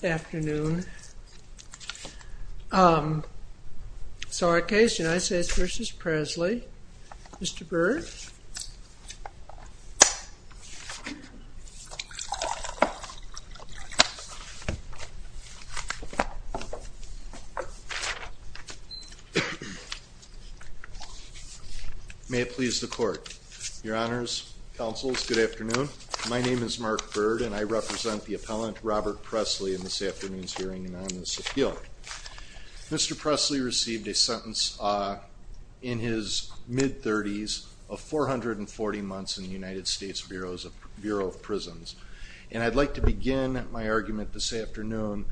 Good afternoon. So our case, United States v. Presley. Mr. Byrd. May it please the court. Your honors, counsels, good afternoon. My name is Mark Byrd and I am the judge in this afternoon's hearing and on this appeal. Mr. Presley received a sentence in his mid-30s of 440 months in the United States Bureau of Prisons. And I'd like to begin my argument this afternoon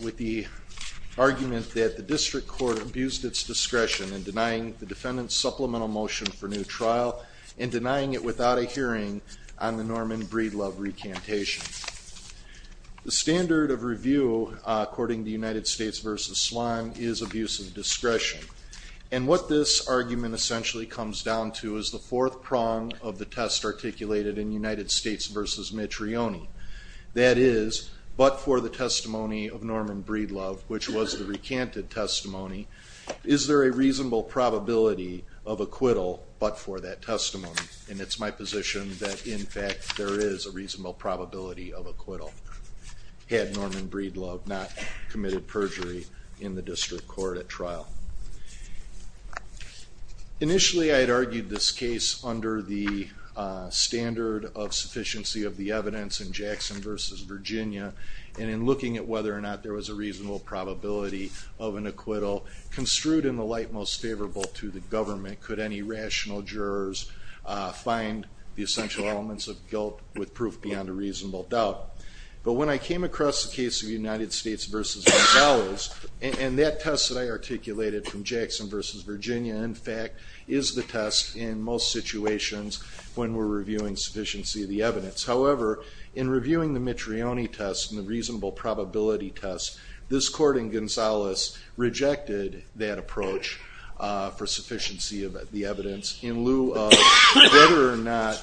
with the argument that the district court abused its discretion in denying the defendant's supplemental motion for new trial and denying it without a hearing on the Norman Breedlove recantation. The standard of review, according to United States v. Sloan, is abuse of discretion. And what this argument essentially comes down to is the fourth prong of the test articulated in United States v. Metrioni. That is, but for the testimony of Norman Breedlove, which was the recanted testimony, is there a reasonable probability of acquittal but for that testimony? And it's my position that in fact there is a reasonable probability of acquittal had Norman Breedlove not committed perjury in the district court at trial. Initially I had argued this case under the standard of sufficiency of the evidence in Jackson v. Virginia and in looking at whether or not there was a reasonable probability of an acquittal construed in the light most favorable to the government. Could any rational jurors find the essential elements of guilt with proof beyond a reasonable doubt? But when I came across the case of United States v. Gonzalez, and that test that I articulated from Jackson v. Virginia, in fact, is the test in most situations when we're reviewing sufficiency of the evidence. However, in reviewing the Metrioni test and the reasonable probability test, this court in Gonzalez rejected that approach for sufficiency of the evidence in lieu of whether or not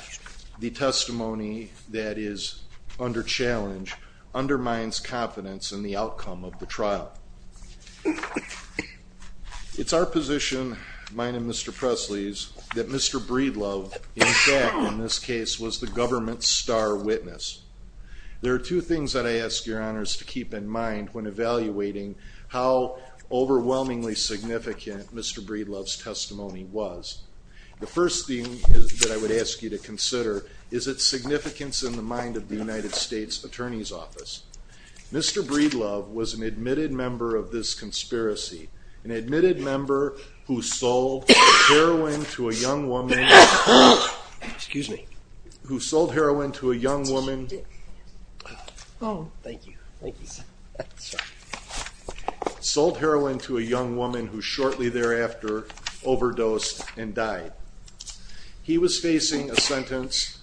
the testimony that is under challenge undermines confidence in the outcome of the trial. It's our position, mine and Mr. Presley's, that Mr. Breedlove, in fact, in this case, was the government's star witness. There are two things that I ask your honors to keep in mind when evaluating how overwhelmingly significant Mr. Breedlove's testimony was. The first thing that I would ask you to consider is its significance in the mind of the United States Attorney's Office. Mr. Breedlove was an admitted member of this conspiracy, an admitted sold heroin to a young woman who shortly thereafter overdosed and died. He was facing a sentence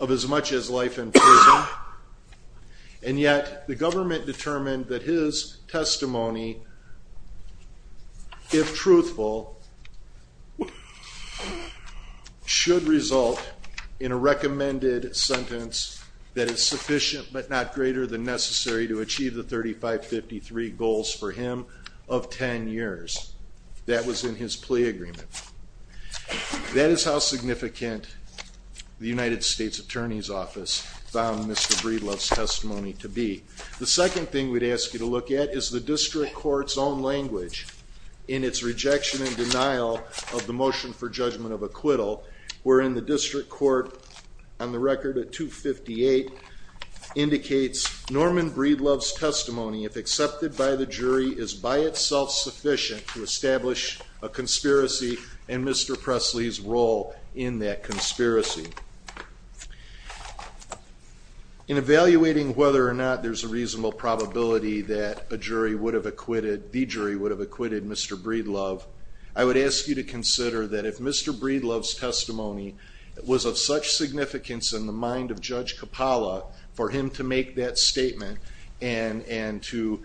of as much as life in prison, and yet the government determined that his testimony, if truthful, should result in a recommended sentence that is sufficient but not greater than necessary to achieve the 3553 goals for him of 10 years. That was in his plea agreement. That is how significant the United States Attorney's Office found Mr. Breedlove's testimony to be. The second thing we'd ask you to look at is the district court's own language in its rejection and denial of the motion for judgment of acquittal, wherein the district court, on the record at 258, indicates Norman Breedlove's testimony, if accepted by the jury, is by itself sufficient to establish a conspiracy and Mr. Presley's role in that conspiracy. In evaluating whether or not there's a reasonable probability that a jury would have acquitted, the jury would have acquitted Mr. Breedlove, I would ask you to consider that if Mr. Breedlove's testimony was of such significance in the mind of Judge Capalla for him to make that statement and to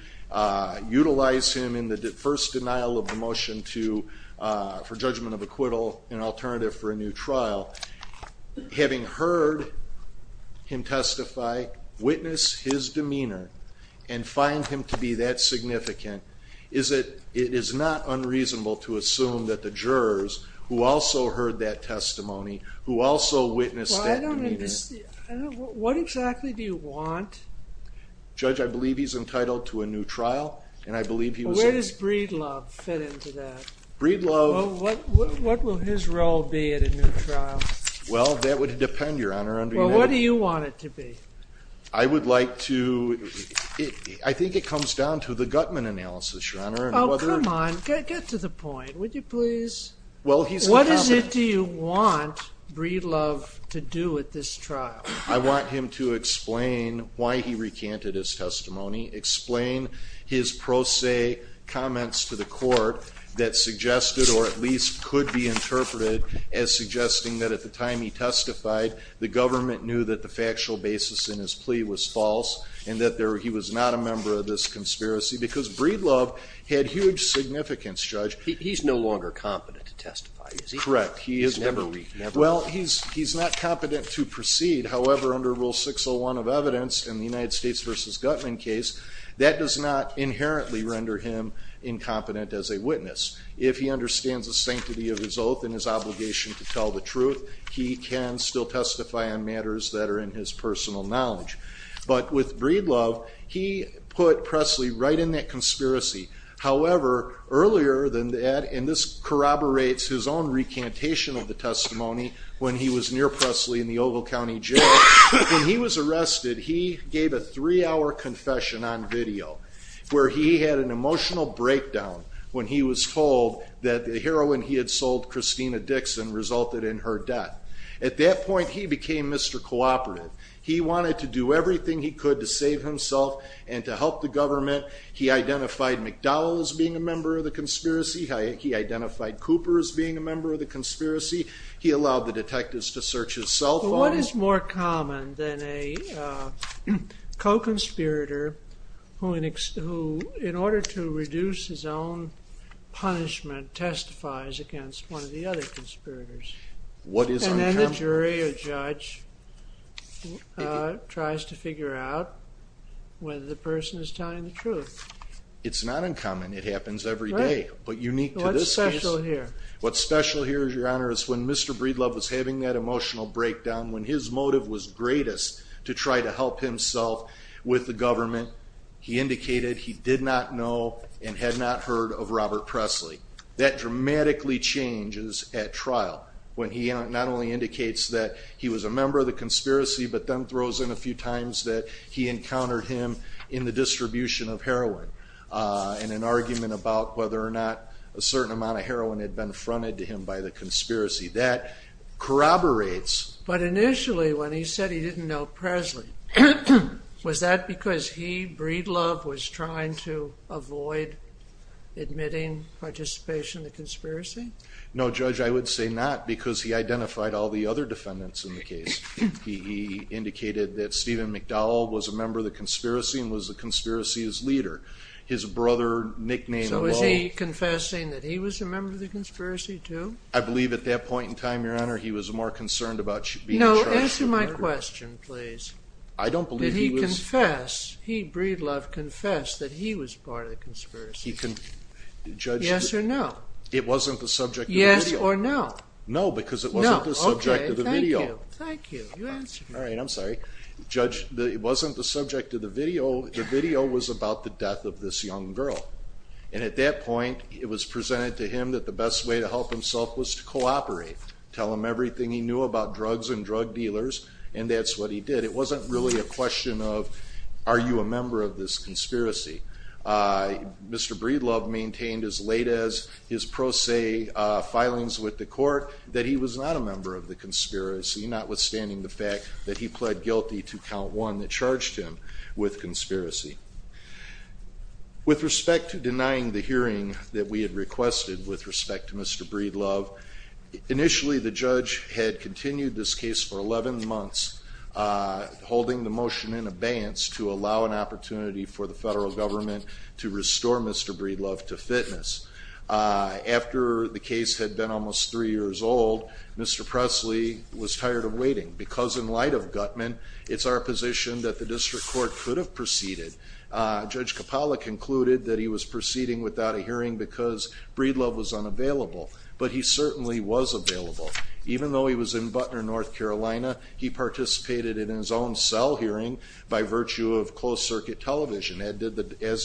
utilize him in the first denial of the motion for judgment of acquittal, an alternative for a new trial, having heard him testify, witness his demeanor, and find him to be that significant, is it not unreasonable to What exactly do you want? Judge, I believe he's entitled to a new trial, and I believe he was... Where does Breedlove fit into that? Breedlove... What will his role be at a new trial? Well, that would depend, Your Honor. Well, what do you want it to be? I would like to... I think it comes down to the Gutman analysis, Your Honor. Oh, come on. Get to the point, would you please? What is it you want Breedlove to do at this trial? I want him to explain why he recanted his testimony, explain his pro se comments to the court that suggested, or at least could be interpreted as suggesting that at the time he testified, the government knew that the factual basis in his plea was false, and that he was not a member of this conspiracy, because Breedlove had huge significance, Judge. He's no longer competent to testify, is he? Correct. He's never... Well, he's not competent to proceed. However, under Rule 601 of evidence in the United States v. Gutman case, that does not inherently render him incompetent as a witness. If he understands the sanctity of his oath and his obligation to tell the truth, he can still testify on matters that are in his personal knowledge. But with Breedlove, he put Presley right in that conspiracy. However, earlier than that, and this corroborates his own recantation of the testimony when he was near Presley in the Ogle County Jail, when he was arrested, he gave a three-hour confession on video where he had an emotional breakdown when he was told that the heroin he had sold Christina Dixon resulted in her death. At that point, he became Mr. Cooperative. He wanted to do everything he could to save himself and to help the government. He identified McDowell as being a member of the conspiracy. He identified Cooper as being a member of the conspiracy. He allowed the detectives to search his cell phone. What is more common than a co-conspirator who, in order to reduce his own punishment, testifies against one of the other conspirators? What is uncountable? And the jury or judge tries to figure out whether the person is telling the truth. It's not uncommon. It happens every day. But unique to this case. What's special here? What's special here, Your Honor, is when Mr. Breedlove was having that emotional breakdown, when his motive was greatest to try to help himself with the government, he indicated he did not know and had not heard of Robert Presley. That dramatically changes at trial when he not only indicates that he was a member of the conspiracy but then throws in a few times that he encountered him in the distribution of heroin in an argument about whether or not a certain amount of heroin had been fronted to him by the conspiracy. That corroborates. But initially, when he said he didn't know Presley, was that because he, Breedlove, was trying to avoid admitting participation in the conspiracy? No, Judge. I would say not because he identified all the other defendants in the case. He indicated that Stephen McDowell was a member of the conspiracy and was the conspiracy's leader. His brother nicknamed Lowell. So is he confessing that he was a member of the conspiracy too? I believe at that point in time, Your Honor, he was more concerned about being charged with murder. I have a question, please. I don't believe he was. Did he confess, did Breedlove confess that he was part of the conspiracy? He confessed. Yes or no? It wasn't the subject of the video. Yes or no? No, because it wasn't the subject of the video. No, okay, thank you. Thank you. All right, I'm sorry. Judge, it wasn't the subject of the video. The video was about the death of this young girl. And at that point, it was presented to him that the best way to help himself was to cooperate, tell him everything he knew about drugs and drug dealers, and that's what he did. It wasn't really a question of are you a member of this conspiracy. Mr. Breedlove maintained as late as his pro se filings with the court that he was not a member of the conspiracy, notwithstanding the fact that he pled guilty to count one that charged him with conspiracy. With respect to denying the hearing that we had requested with respect to Mr. Breedlove, initially the judge had continued this case for 11 months, holding the motion in abeyance to allow an opportunity for the federal government to restore Mr. Breedlove to fitness. After the case had been almost three years old, Mr. Presley was tired of waiting, because in light of Gutman, it's our position that the district court could have proceeded. Judge Capalla concluded that he was proceeding without a hearing because Breedlove was unavailable, but he certainly was available. Even though he was in Butner, North Carolina, he participated in his own cell hearing by virtue of closed circuit television, as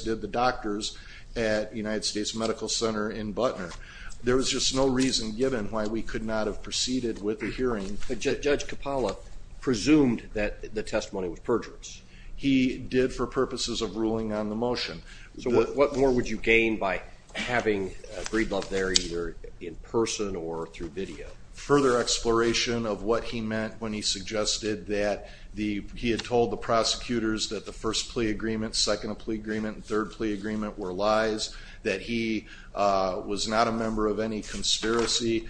did the doctors at United States Medical Center in Butner. There was just no reason given why we could not have proceeded with the hearing. Judge Capalla presumed that the testimony was perjurous. He did for purposes of ruling on the motion. So what more would you gain by having Breedlove there either in person or through video? Further exploration of what he meant when he suggested that he had told the prosecutors that the first plea agreement, second plea agreement, third plea agreement were lies, that he was not a member of any conspiracy.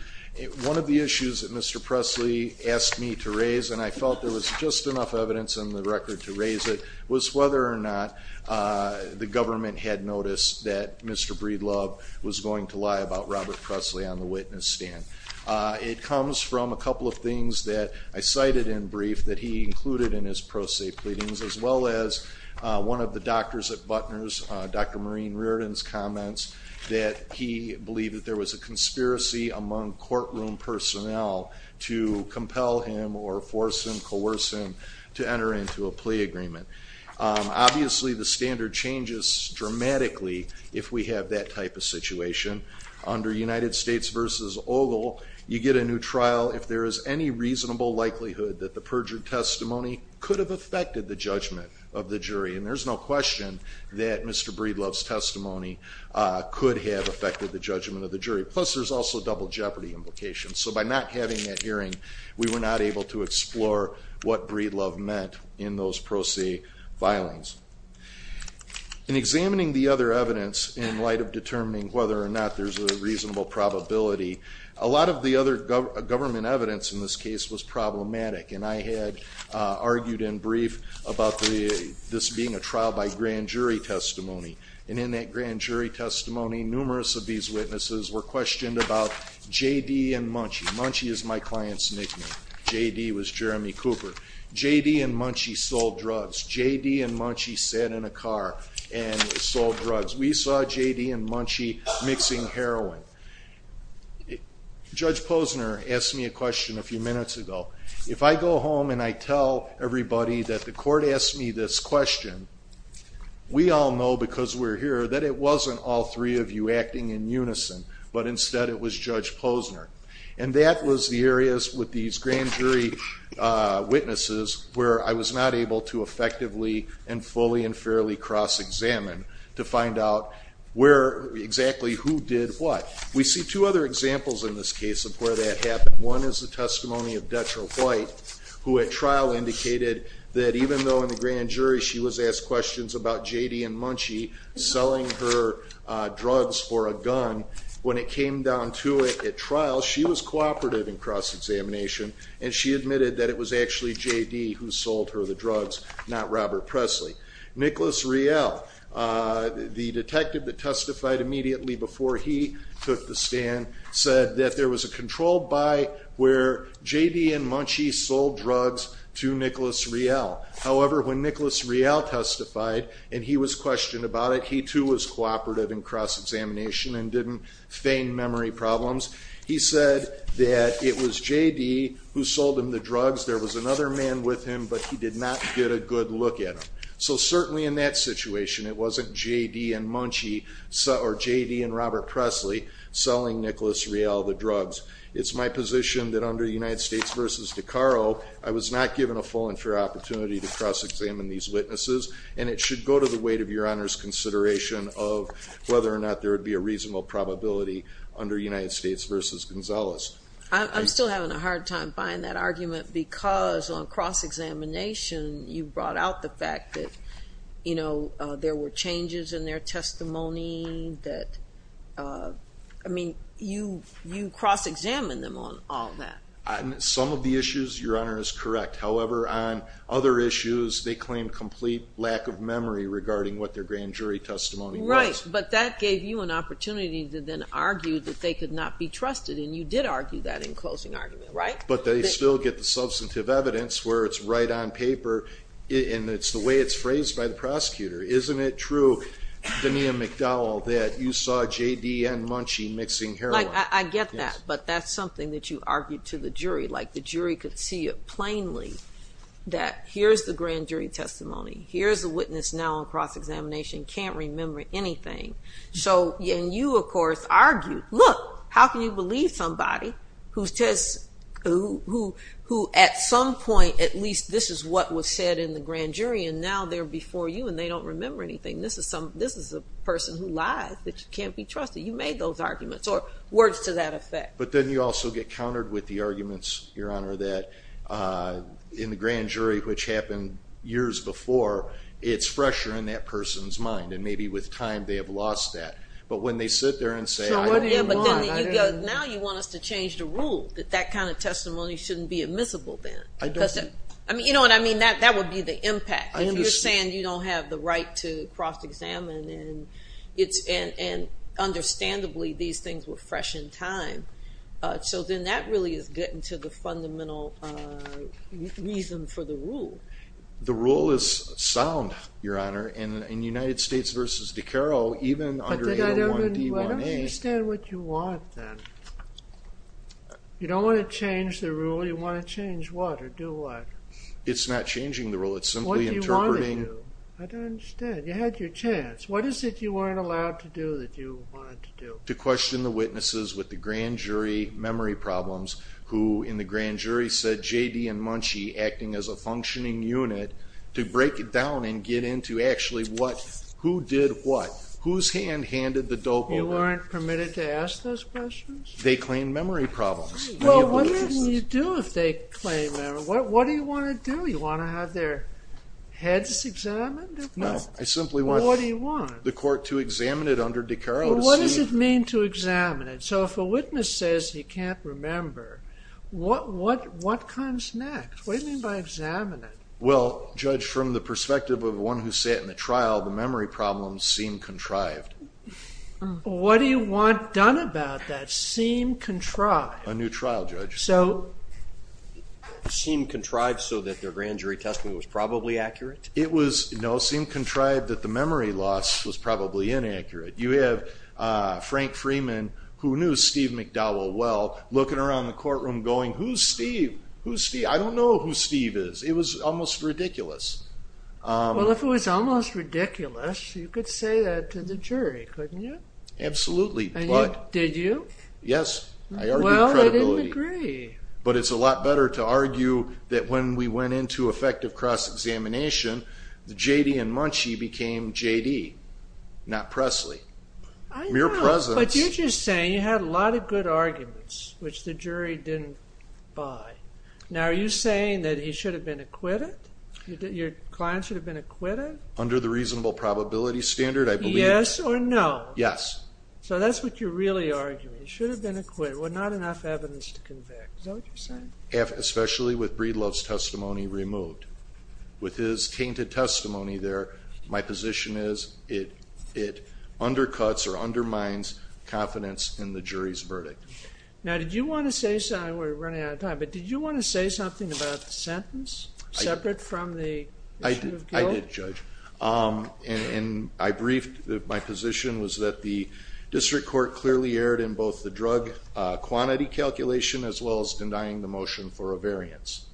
One of the issues that Mr. Presley asked me to raise, and I felt there was just enough evidence in the record to raise it, was whether or not the government had noticed that Mr. Breedlove was going to lie about Robert Presley on the witness stand. It comes from a couple of things that I cited in brief that he included in his pro se pleadings, as well as one of the doctors at Butner's, Dr. Maureen Reardon's comments, that he believed that there was a conspiracy among courtroom personnel to compel him or force him, coerce him to enter into a plea agreement. Obviously, the standard changes dramatically if we have that type of situation. Under United States v. Ogle, you get a new trial if there is any reasonable likelihood that the perjured testimony could have affected the judgment of the jury. And there's no question that Mr. Breedlove's testimony could have affected the judgment of the jury. Plus, there's also double jeopardy implications. So by not having that hearing, we were not able to explore what Breedlove meant in those pro se filings. In examining the other evidence in light of determining whether or not there's a reasonable probability, a lot of the other government evidence in this case was problematic, and I had argued in brief about this being a trial by grand jury testimony. And in that grand jury testimony, numerous of these witnesses were questioned about J.D. and Munchie. Munchie is my client's nickname. J.D. was Jeremy Cooper. J.D. and Munchie sold drugs. J.D. and Munchie sat in a car and sold drugs. We saw J.D. and Munchie mixing heroin. Judge Posner asked me a question a few minutes ago. If I go home and I tell everybody that the court asked me this question, we all know because we're here that it wasn't all three of you acting in unison, but instead it was Judge Posner. And that was the areas with these grand jury witnesses where I was not able to effectively and fully and fairly cross-examine to find out where exactly who did what. We see two other examples in this case of where that happened. One is the testimony of Detra White, who at trial indicated that even though in the grand jury she was asked questions about J.D. and Munchie selling her drugs for a gun, when it came down to it at trial, she was cooperative in cross-examination and she admitted that it was actually J.D. who sold her the drugs, not Robert Presley. Nicholas Riel, the detective that testified immediately before he took the stand, said that there was a controlled buy where J.D. and Munchie sold drugs to Nicholas Riel. However, when Nicholas Riel testified and he was questioned about it, he too was cooperative in cross-examination and didn't feign memory problems. He said that it was J.D. who sold him the drugs. There was another man with him, but he did not get a good look at them. So certainly in that situation, it wasn't J.D. and Robert Presley selling Nicholas Riel the drugs. It's my position that under United States v. DeCaro, I was not given a full and fair opportunity to cross-examine these witnesses and it should go to the weight of your Honor's consideration of whether or not there would be a reasonable probability under United States v. Gonzalez. I'm still having a hard time buying that argument because on cross-examination, you brought out the fact that, you know, there were changes in their testimony that, I mean, you cross-examined them on all that. On some of the issues, your Honor is correct. However, on other issues, they claim complete lack of memory regarding what their grand jury testimony was. Right, but that gave you an opportunity to then argue that they could not be trusted and you did argue that in closing argument, right? But they still get the substantive evidence where it's right on paper and it's the way it's phrased by the prosecutor. Isn't it true, Denia McDowell, that you saw J.D. and Munchie mixing heroin? I get that, but that's something that you argued to the jury, like the jury could see it plainly that here's the grand jury testimony, here's the witness now on cross-examination, can't remember anything. And you, of course, argued, look, how can you believe somebody who at some point, at least this is what was said in the grand jury and now they're before you and they don't remember anything. This is a person who lies that you can't be trusted. You made those arguments or words to that effect. But then you also get countered with the arguments, Your Honor, that in the grand jury, which happened years before, it's fresher in that person's mind and maybe with time they have lost that. But when they sit there and say, I don't know. So what do you want? Now you want us to change the rule that that kind of testimony shouldn't be admissible then. I don't think. You know what I mean? That would be the impact. If you're saying you don't have the right to cross-examine and understandably these things were fresh in time. So then that really is getting to the fundamental reason for the rule. The rule is sound, Your Honor. In United States v. DiCaro, even under 801D1A. But I don't understand what you want then. You don't want to change the rule. You want to change what or do what? It's not changing the rule. It's simply interpreting. What do you want to do? I don't understand. You had your chance. What is it you weren't allowed to do that you wanted to do? To question the witnesses with the grand jury memory problems who in the grand jury said J.D. and Munchie acting as a functioning unit to break it down and get into actually who did what. Whose hand handed the dope over? You weren't permitted to ask those questions? They claim memory problems. Well, what can you do if they claim memory? What do you want to do? You want to have their heads examined? No. I simply want the court to examine it under DiCaro. What does it mean to examine it? So if a witness says he can't remember, what comes next? What do you mean by examine it? Well, Judge, from the perspective of the one who sat in the trial, the memory problems seem contrived. What do you want done about that, seem contrived? A new trial, Judge. So seem contrived so that their grand jury testimony was probably accurate? No, seem contrived that the memory loss was probably inaccurate. You have Frank Freeman, who knew Steve McDowell well, looking around the courtroom going, Who's Steve? Who's Steve? I don't know who Steve is. It was almost ridiculous. Well, if it was almost ridiculous, you could say that to the jury, couldn't you? Absolutely. Did you? Yes. I argued credibility. Well, I didn't agree. But it's a lot better to argue that when we went into effective cross-examination, that J.D. and Munchie became J.D., not Presley. I know. Mere presence. But you're just saying you had a lot of good arguments, which the jury didn't buy. Now, are you saying that he should have been acquitted? Your client should have been acquitted? Under the reasonable probability standard, I believe. Yes or no? Yes. So that's what you're really arguing. He should have been acquitted. Well, not enough evidence to convict. Is that what you're saying? Especially with Breedlove's testimony removed. With his tainted testimony there, my position is it undercuts or undermines confidence in the jury's verdict. Now, did you want to say something? We're running out of time. But did you want to say something about the sentence separate from the issue of guilt? I did, Judge. And I briefed that my position was that the district court clearly erred in both the drug quantity calculation as well as denying the motion for a variance.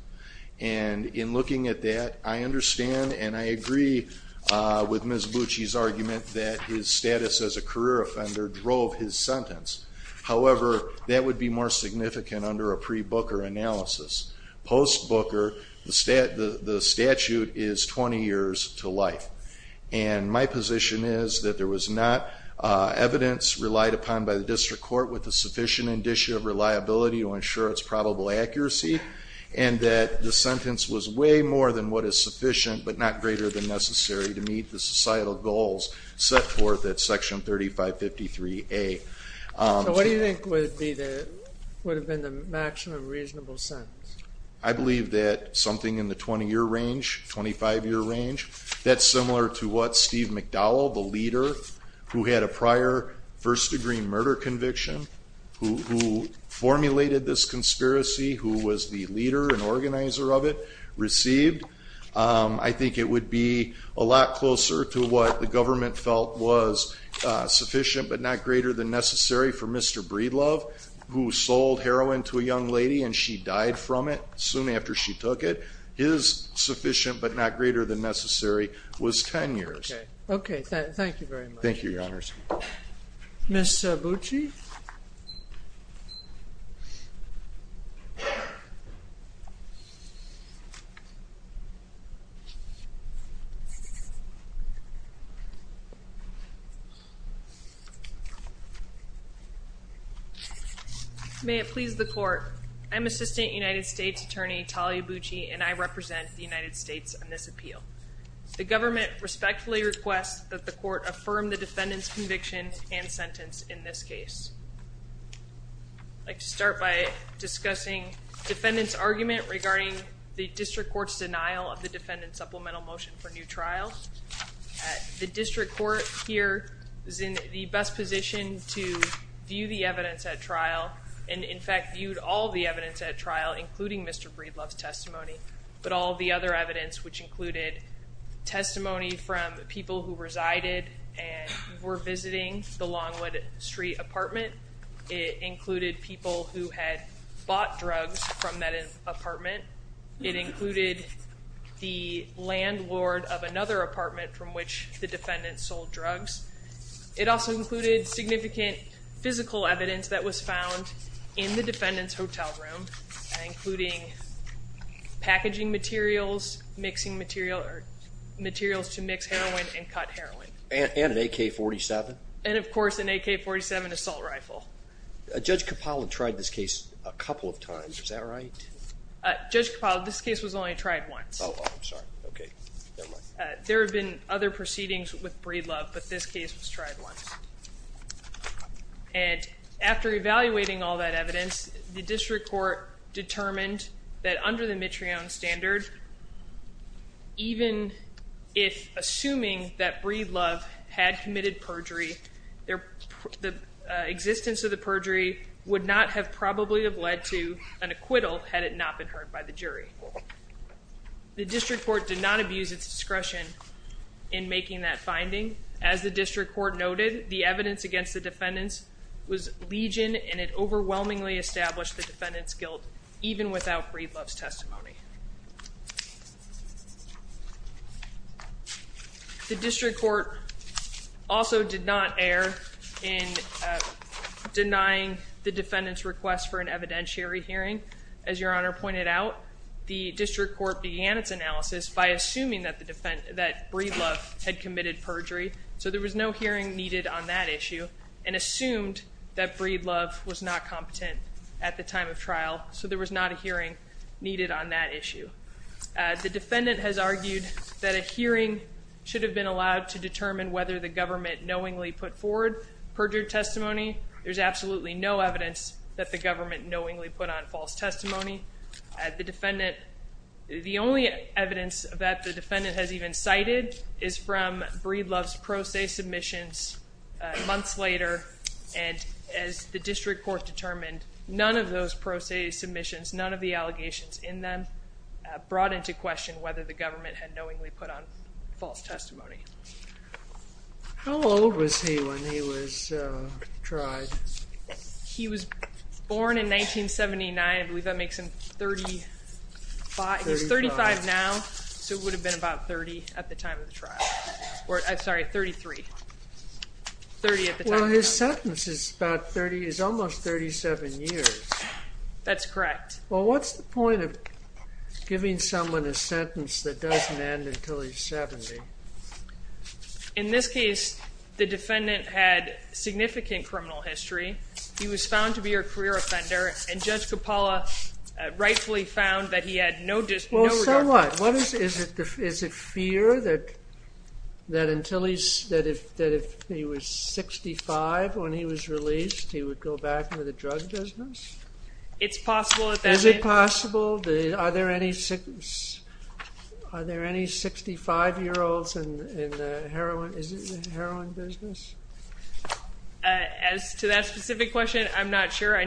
And in looking at that, I understand and I agree with Ms. Bucci's argument that his status as a career offender drove his sentence. However, that would be more significant under a pre-Booker analysis. Post-Booker, the statute is 20 years to life. And my position is that there was not evidence relied upon by the district court with the sufficient indicia of reliability to ensure its probable accuracy. And that the sentence was way more than what is sufficient but not greater than necessary to meet the societal goals set forth at Section 3553A. So what do you think would have been the maximum reasonable sentence? I believe that something in the 20-year range, 25-year range. That's similar to what Steve McDowell, the leader, who had a prior first-degree murder conviction, who formulated this conspiracy, who was the leader and organizer of it, received. I think it would be a lot closer to what the government felt was sufficient but not greater than necessary for Mr. Breedlove, who sold heroin to a young lady and she died from it soon after she took it. And I think what I would say is sufficient but not greater than necessary was 10 years. Okay. Thank you very much. Thank you, Your Honors. Ms. Bucci? May it please the Court. I'm Assistant United States Attorney Talia Bucci, and I represent the United States on this appeal. The government respectfully requests that the Court affirm the defendant's conviction and sentence in this case. I'd like to start by discussing the defendant's argument regarding the district court's denial of the defendant's supplemental motion for new trial. The district court here is in the best position to view the evidence at trial and, in fact, viewed all the evidence at trial, including Mr. Breedlove's testimony, but all the other evidence, which included testimony from people who resided and were visiting the Longwood Street apartment. It included people who had bought drugs from that apartment. It included the landlord of another apartment from which the defendant sold drugs. It also included significant physical evidence that was found in the defendant's hotel room, including packaging materials, mixing materials to mix heroin and cut heroin. And an AK-47? And, of course, an AK-47 assault rifle. Judge Capallo tried this case a couple of times. Is that right? Judge Capallo, this case was only tried once. Oh, I'm sorry. Okay. Never mind. There have been other proceedings with Breedlove, but this case was tried once. And after evaluating all that evidence, the district court determined that, under the Mitreon standard, even if assuming that Breedlove had committed perjury, the existence of the perjury would not have probably have led to an acquittal had it not been heard by the jury. The district court did not abuse its discretion in making that finding. As the district court noted, the evidence against the defendants was legion, and it overwhelmingly established the defendants' guilt, even without Breedlove's testimony. The district court also did not err in denying the defendants' request for an evidentiary hearing. As Your Honor pointed out, the district court began its analysis by assuming that Breedlove had committed perjury, so there was no hearing needed on that issue, and assumed that Breedlove was not competent at the time of trial, so there was not a hearing needed on that issue. The defendant has argued that a hearing should have been allowed to determine whether the government knowingly put forward perjured testimony. There's absolutely no evidence that the government knowingly put on false testimony. The only evidence that the defendant has even cited is from Breedlove's pro se submissions months later, and as the district court determined, none of those pro se submissions, none of the allegations in them brought into question whether the government had knowingly put on false testimony. How old was he when he was tried? He was born in 1979. I believe that makes him 35. He's 35 now, so it would have been about 30 at the time of the trial. Sorry, 33. Well, his sentence is almost 37 years. That's correct. Well, what's the point of giving someone a sentence that doesn't end until he's 70? In this case, the defendant had significant criminal history. He was found to be a career offender, and Judge Coppola rightfully found that he had no regret. Well, so what? Is it fear that if he was 65 when he was released, he would go back into the drug business? Is it possible? Are there any 65-year-olds in the heroin business? As to that specific question, I'm not sure.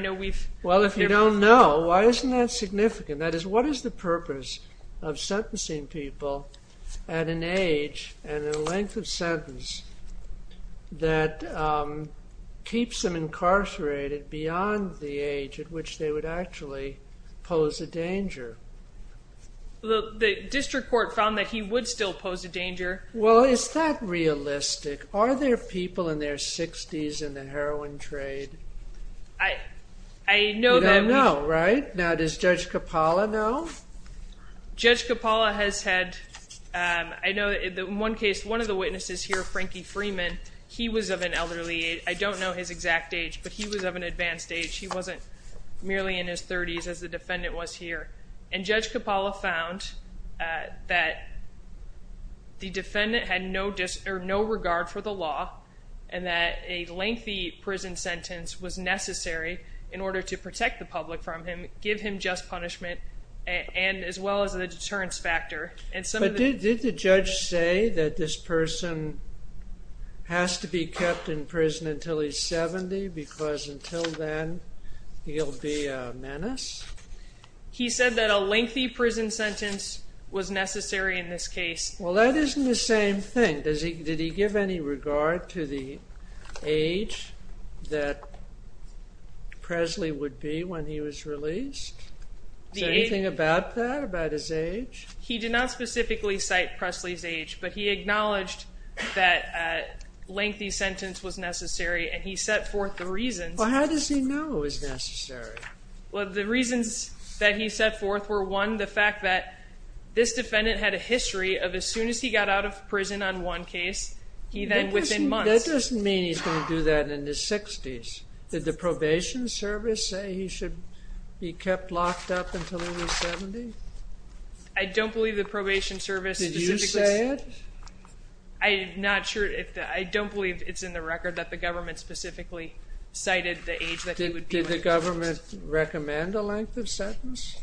Well, if you don't know, why isn't that significant? That is, what is the purpose of sentencing people at an age and a length of sentence that keeps them incarcerated beyond the age at which they would actually pose a danger? Well, the district court found that he would still pose a danger. Well, is that realistic? Are there people in their 60s in the heroin trade? I don't know. You don't know, right? Now, does Judge Coppola know? Judge Coppola has had, I know in one case, one of the witnesses here, Frankie Freeman, he was of an elderly age. I don't know his exact age, but he was of an advanced age. He wasn't merely in his 30s as the defendant was here. And Judge Coppola found that the defendant had no regard for the law and that a lengthy prison sentence was necessary in order to protect the public from him, give him just punishment, as well as a deterrence factor. But did the judge say that this person has to be kept in prison until he's 70 because until then he'll be a menace? He said that a lengthy prison sentence was necessary in this case. Well, that isn't the same thing. Did he give any regard to the age that Presley would be when he was released? Is there anything about that, about his age? He did not specifically cite Presley's age, but he acknowledged that a lengthy sentence was necessary, and he set forth the reasons. Well, how does he know it was necessary? Well, the reasons that he set forth were, one, the fact that this defendant had a history of as soon as he got out of prison on one case, he then within months. That doesn't mean he's going to do that in his 60s. Did the probation service say he should be kept locked up until he was 70? I don't believe the probation service specifically. Did you say it? I'm not sure. I don't believe it's in the record that the government specifically cited the age that he would be when he was released. Did the government recommend a length of sentence?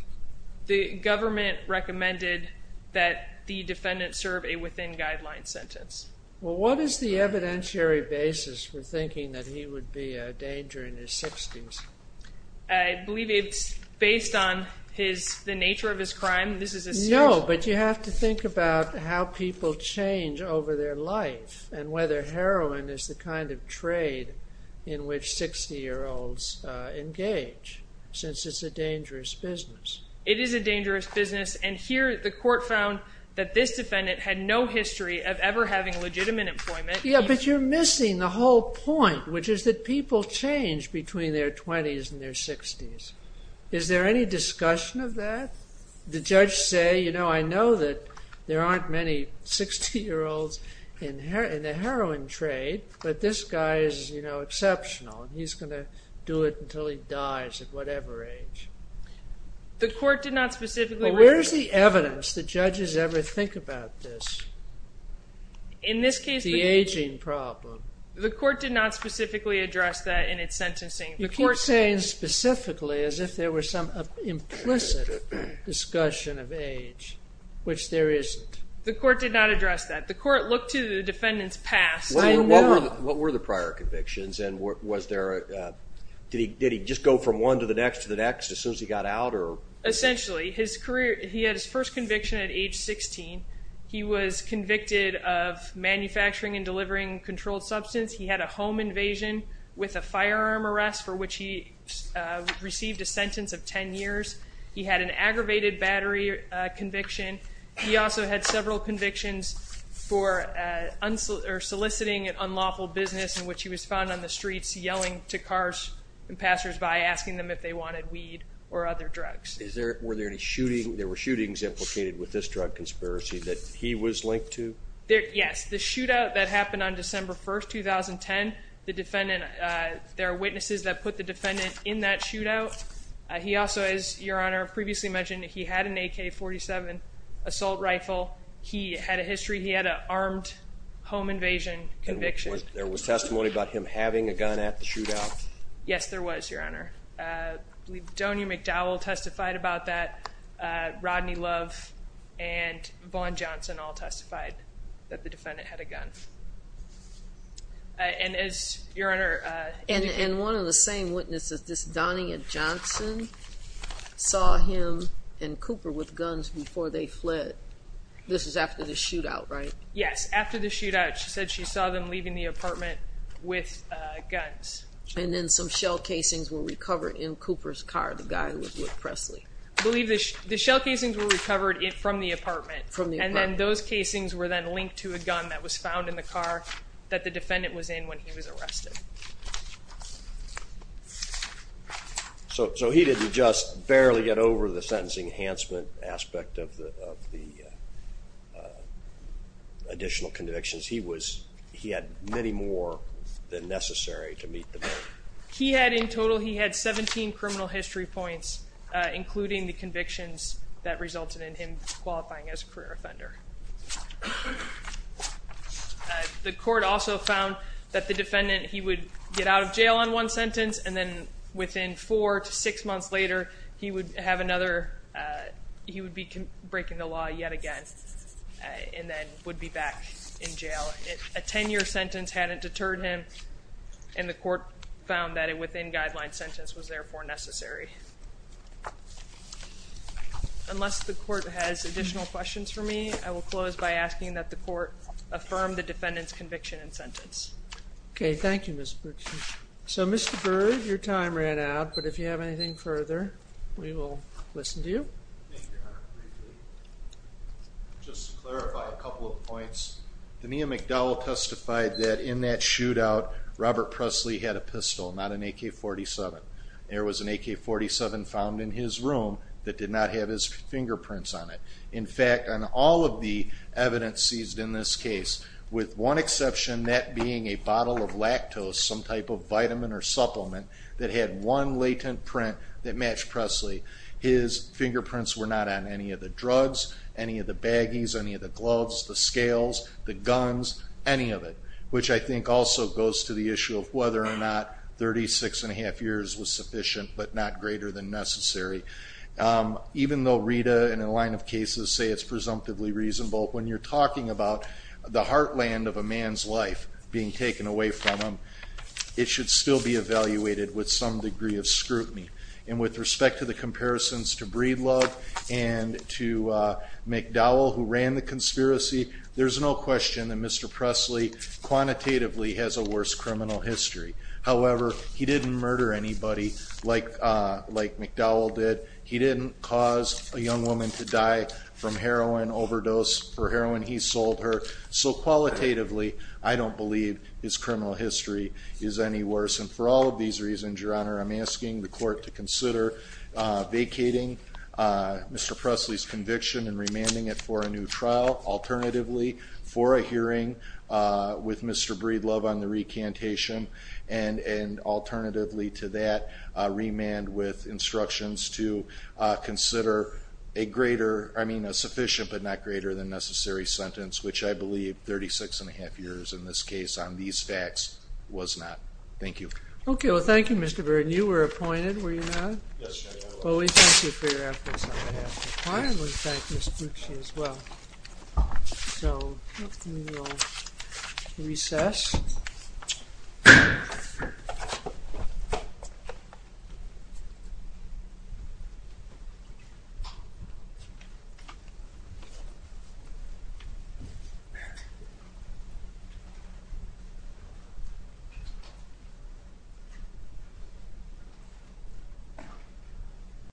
The government recommended that the defendant serve a within-guideline sentence. Well, what is the evidentiary basis for thinking that he would be a danger in his 60s? I believe it's based on the nature of his crime. No, but you have to think about how people change over their life and whether heroin is the kind of trade in which 60-year-olds engage since it's a dangerous business. It is a dangerous business, and here the court found that this defendant had no history of ever having legitimate employment. Yeah, but you're missing the whole point, which is that people change between their 20s and their 60s. Is there any discussion of that? The judge say, you know, I know that there aren't many 60-year-olds in the heroin trade, but this guy is, you know, exceptional, and he's going to do it until he dies at whatever age. The court did not specifically recommend that. Well, where is the evidence that judges ever think about this? In this case, the… The aging problem. The court did not specifically address that in its sentencing. You keep saying specifically as if there were some implicit discussion of age, which there isn't. The court did not address that. The court looked to the defendant's past. What were the prior convictions, and was there a… did he just go from one to the next to the next as soon as he got out? Essentially, he had his first conviction at age 16. He was convicted of manufacturing and delivering controlled substance. He had a home invasion with a firearm arrest, for which he received a sentence of 10 years. He had an aggravated battery conviction. He also had several convictions for soliciting an unlawful business, in which he was found on the streets yelling to cars and passersby, asking them if they wanted weed or other drugs. Were there any shootings implicated with this drug conspiracy that he was linked to? Yes. The shootout that happened on December 1, 2010, the defendant… there are witnesses that put the defendant in that shootout. He also, as Your Honor previously mentioned, he had an AK-47 assault rifle. He had a history. He had an armed home invasion conviction. There was testimony about him having a gun at the shootout? Yes, there was, Your Honor. I believe Donia McDowell testified about that. Rodney Love and Vaughn Johnson all testified that the defendant had a gun. And as Your Honor… And one of the same witnesses, this Donia Johnson, saw him and Cooper with guns before they fled. This was after the shootout, right? Yes, after the shootout. She said she saw them leaving the apartment with guns. And then some shell casings were recovered in Cooper's car, the guy who was with Presley. I believe the shell casings were recovered from the apartment. From the apartment. And then those casings were then linked to a gun that was found in the car that the defendant was in when he was arrested. So he didn't just barely get over the sentencing enhancement aspect of the additional convictions. He had many more than necessary to meet the bill. He had, in total, he had 17 criminal history points, including the convictions that resulted in him qualifying as a career offender. The court also found that the defendant, he would get out of jail on one sentence, and then within four to six months later, he would have another… he would be breaking the law yet again, and then would be back in jail. A 10-year sentence hadn't deterred him, and the court found that a within-guideline sentence was therefore necessary. Unless the court has additional questions for me, I will close by asking that the court affirm the defendant's conviction and sentence. Okay, thank you, Ms. Boucher. So, Mr. Byrd, your time ran out, but if you have anything further, we will listen to you. Just to clarify a couple of points, Dania McDowell testified that in that shootout, Robert Presley had a pistol, not an AK-47. There was an AK-47 found in his room that did not have his fingerprints on it. In fact, on all of the evidence seized in this case, with one exception, that being a bottle of lactose, some type of vitamin or supplement that had one latent print that matched Presley, his fingerprints were not on any of the drugs, any of the baggies, any of the gloves, the scales, the guns, any of it, which I think also goes to the issue of whether or not 36 1⁄2 years was sufficient, but not greater than necessary. Even though Rita and a line of cases say it's presumptively reasonable, when you're talking about the heartland of a man's life being taken away from him, it should still be evaluated with some degree of scrutiny. And with respect to the comparisons to Breedlove and to McDowell, who ran the conspiracy, there's no question that Mr. Presley quantitatively has a worse criminal history. However, he didn't murder anybody like McDowell did. He didn't cause a young woman to die from heroin, overdose for heroin. He sold her. So qualitatively, I don't believe his criminal history is any worse. And for all of these reasons, Your Honor, I'm asking the court to consider vacating Mr. Presley's conviction and remanding it for a new trial, alternatively for a hearing with Mr. Breedlove on the recantation, and alternatively to that, remand with instructions to consider a greater, I mean a sufficient but not greater than necessary sentence, which I believe 36 1⁄2 years in this case on these facts was not. Thank you. Okay. Well, thank you, Mr. Verdin. You were appointed, were you not? Yes, Your Honor. Well, we thank you for your efforts on behalf of the client. We thank Ms. Bucci as well. So we will recess. Thank you.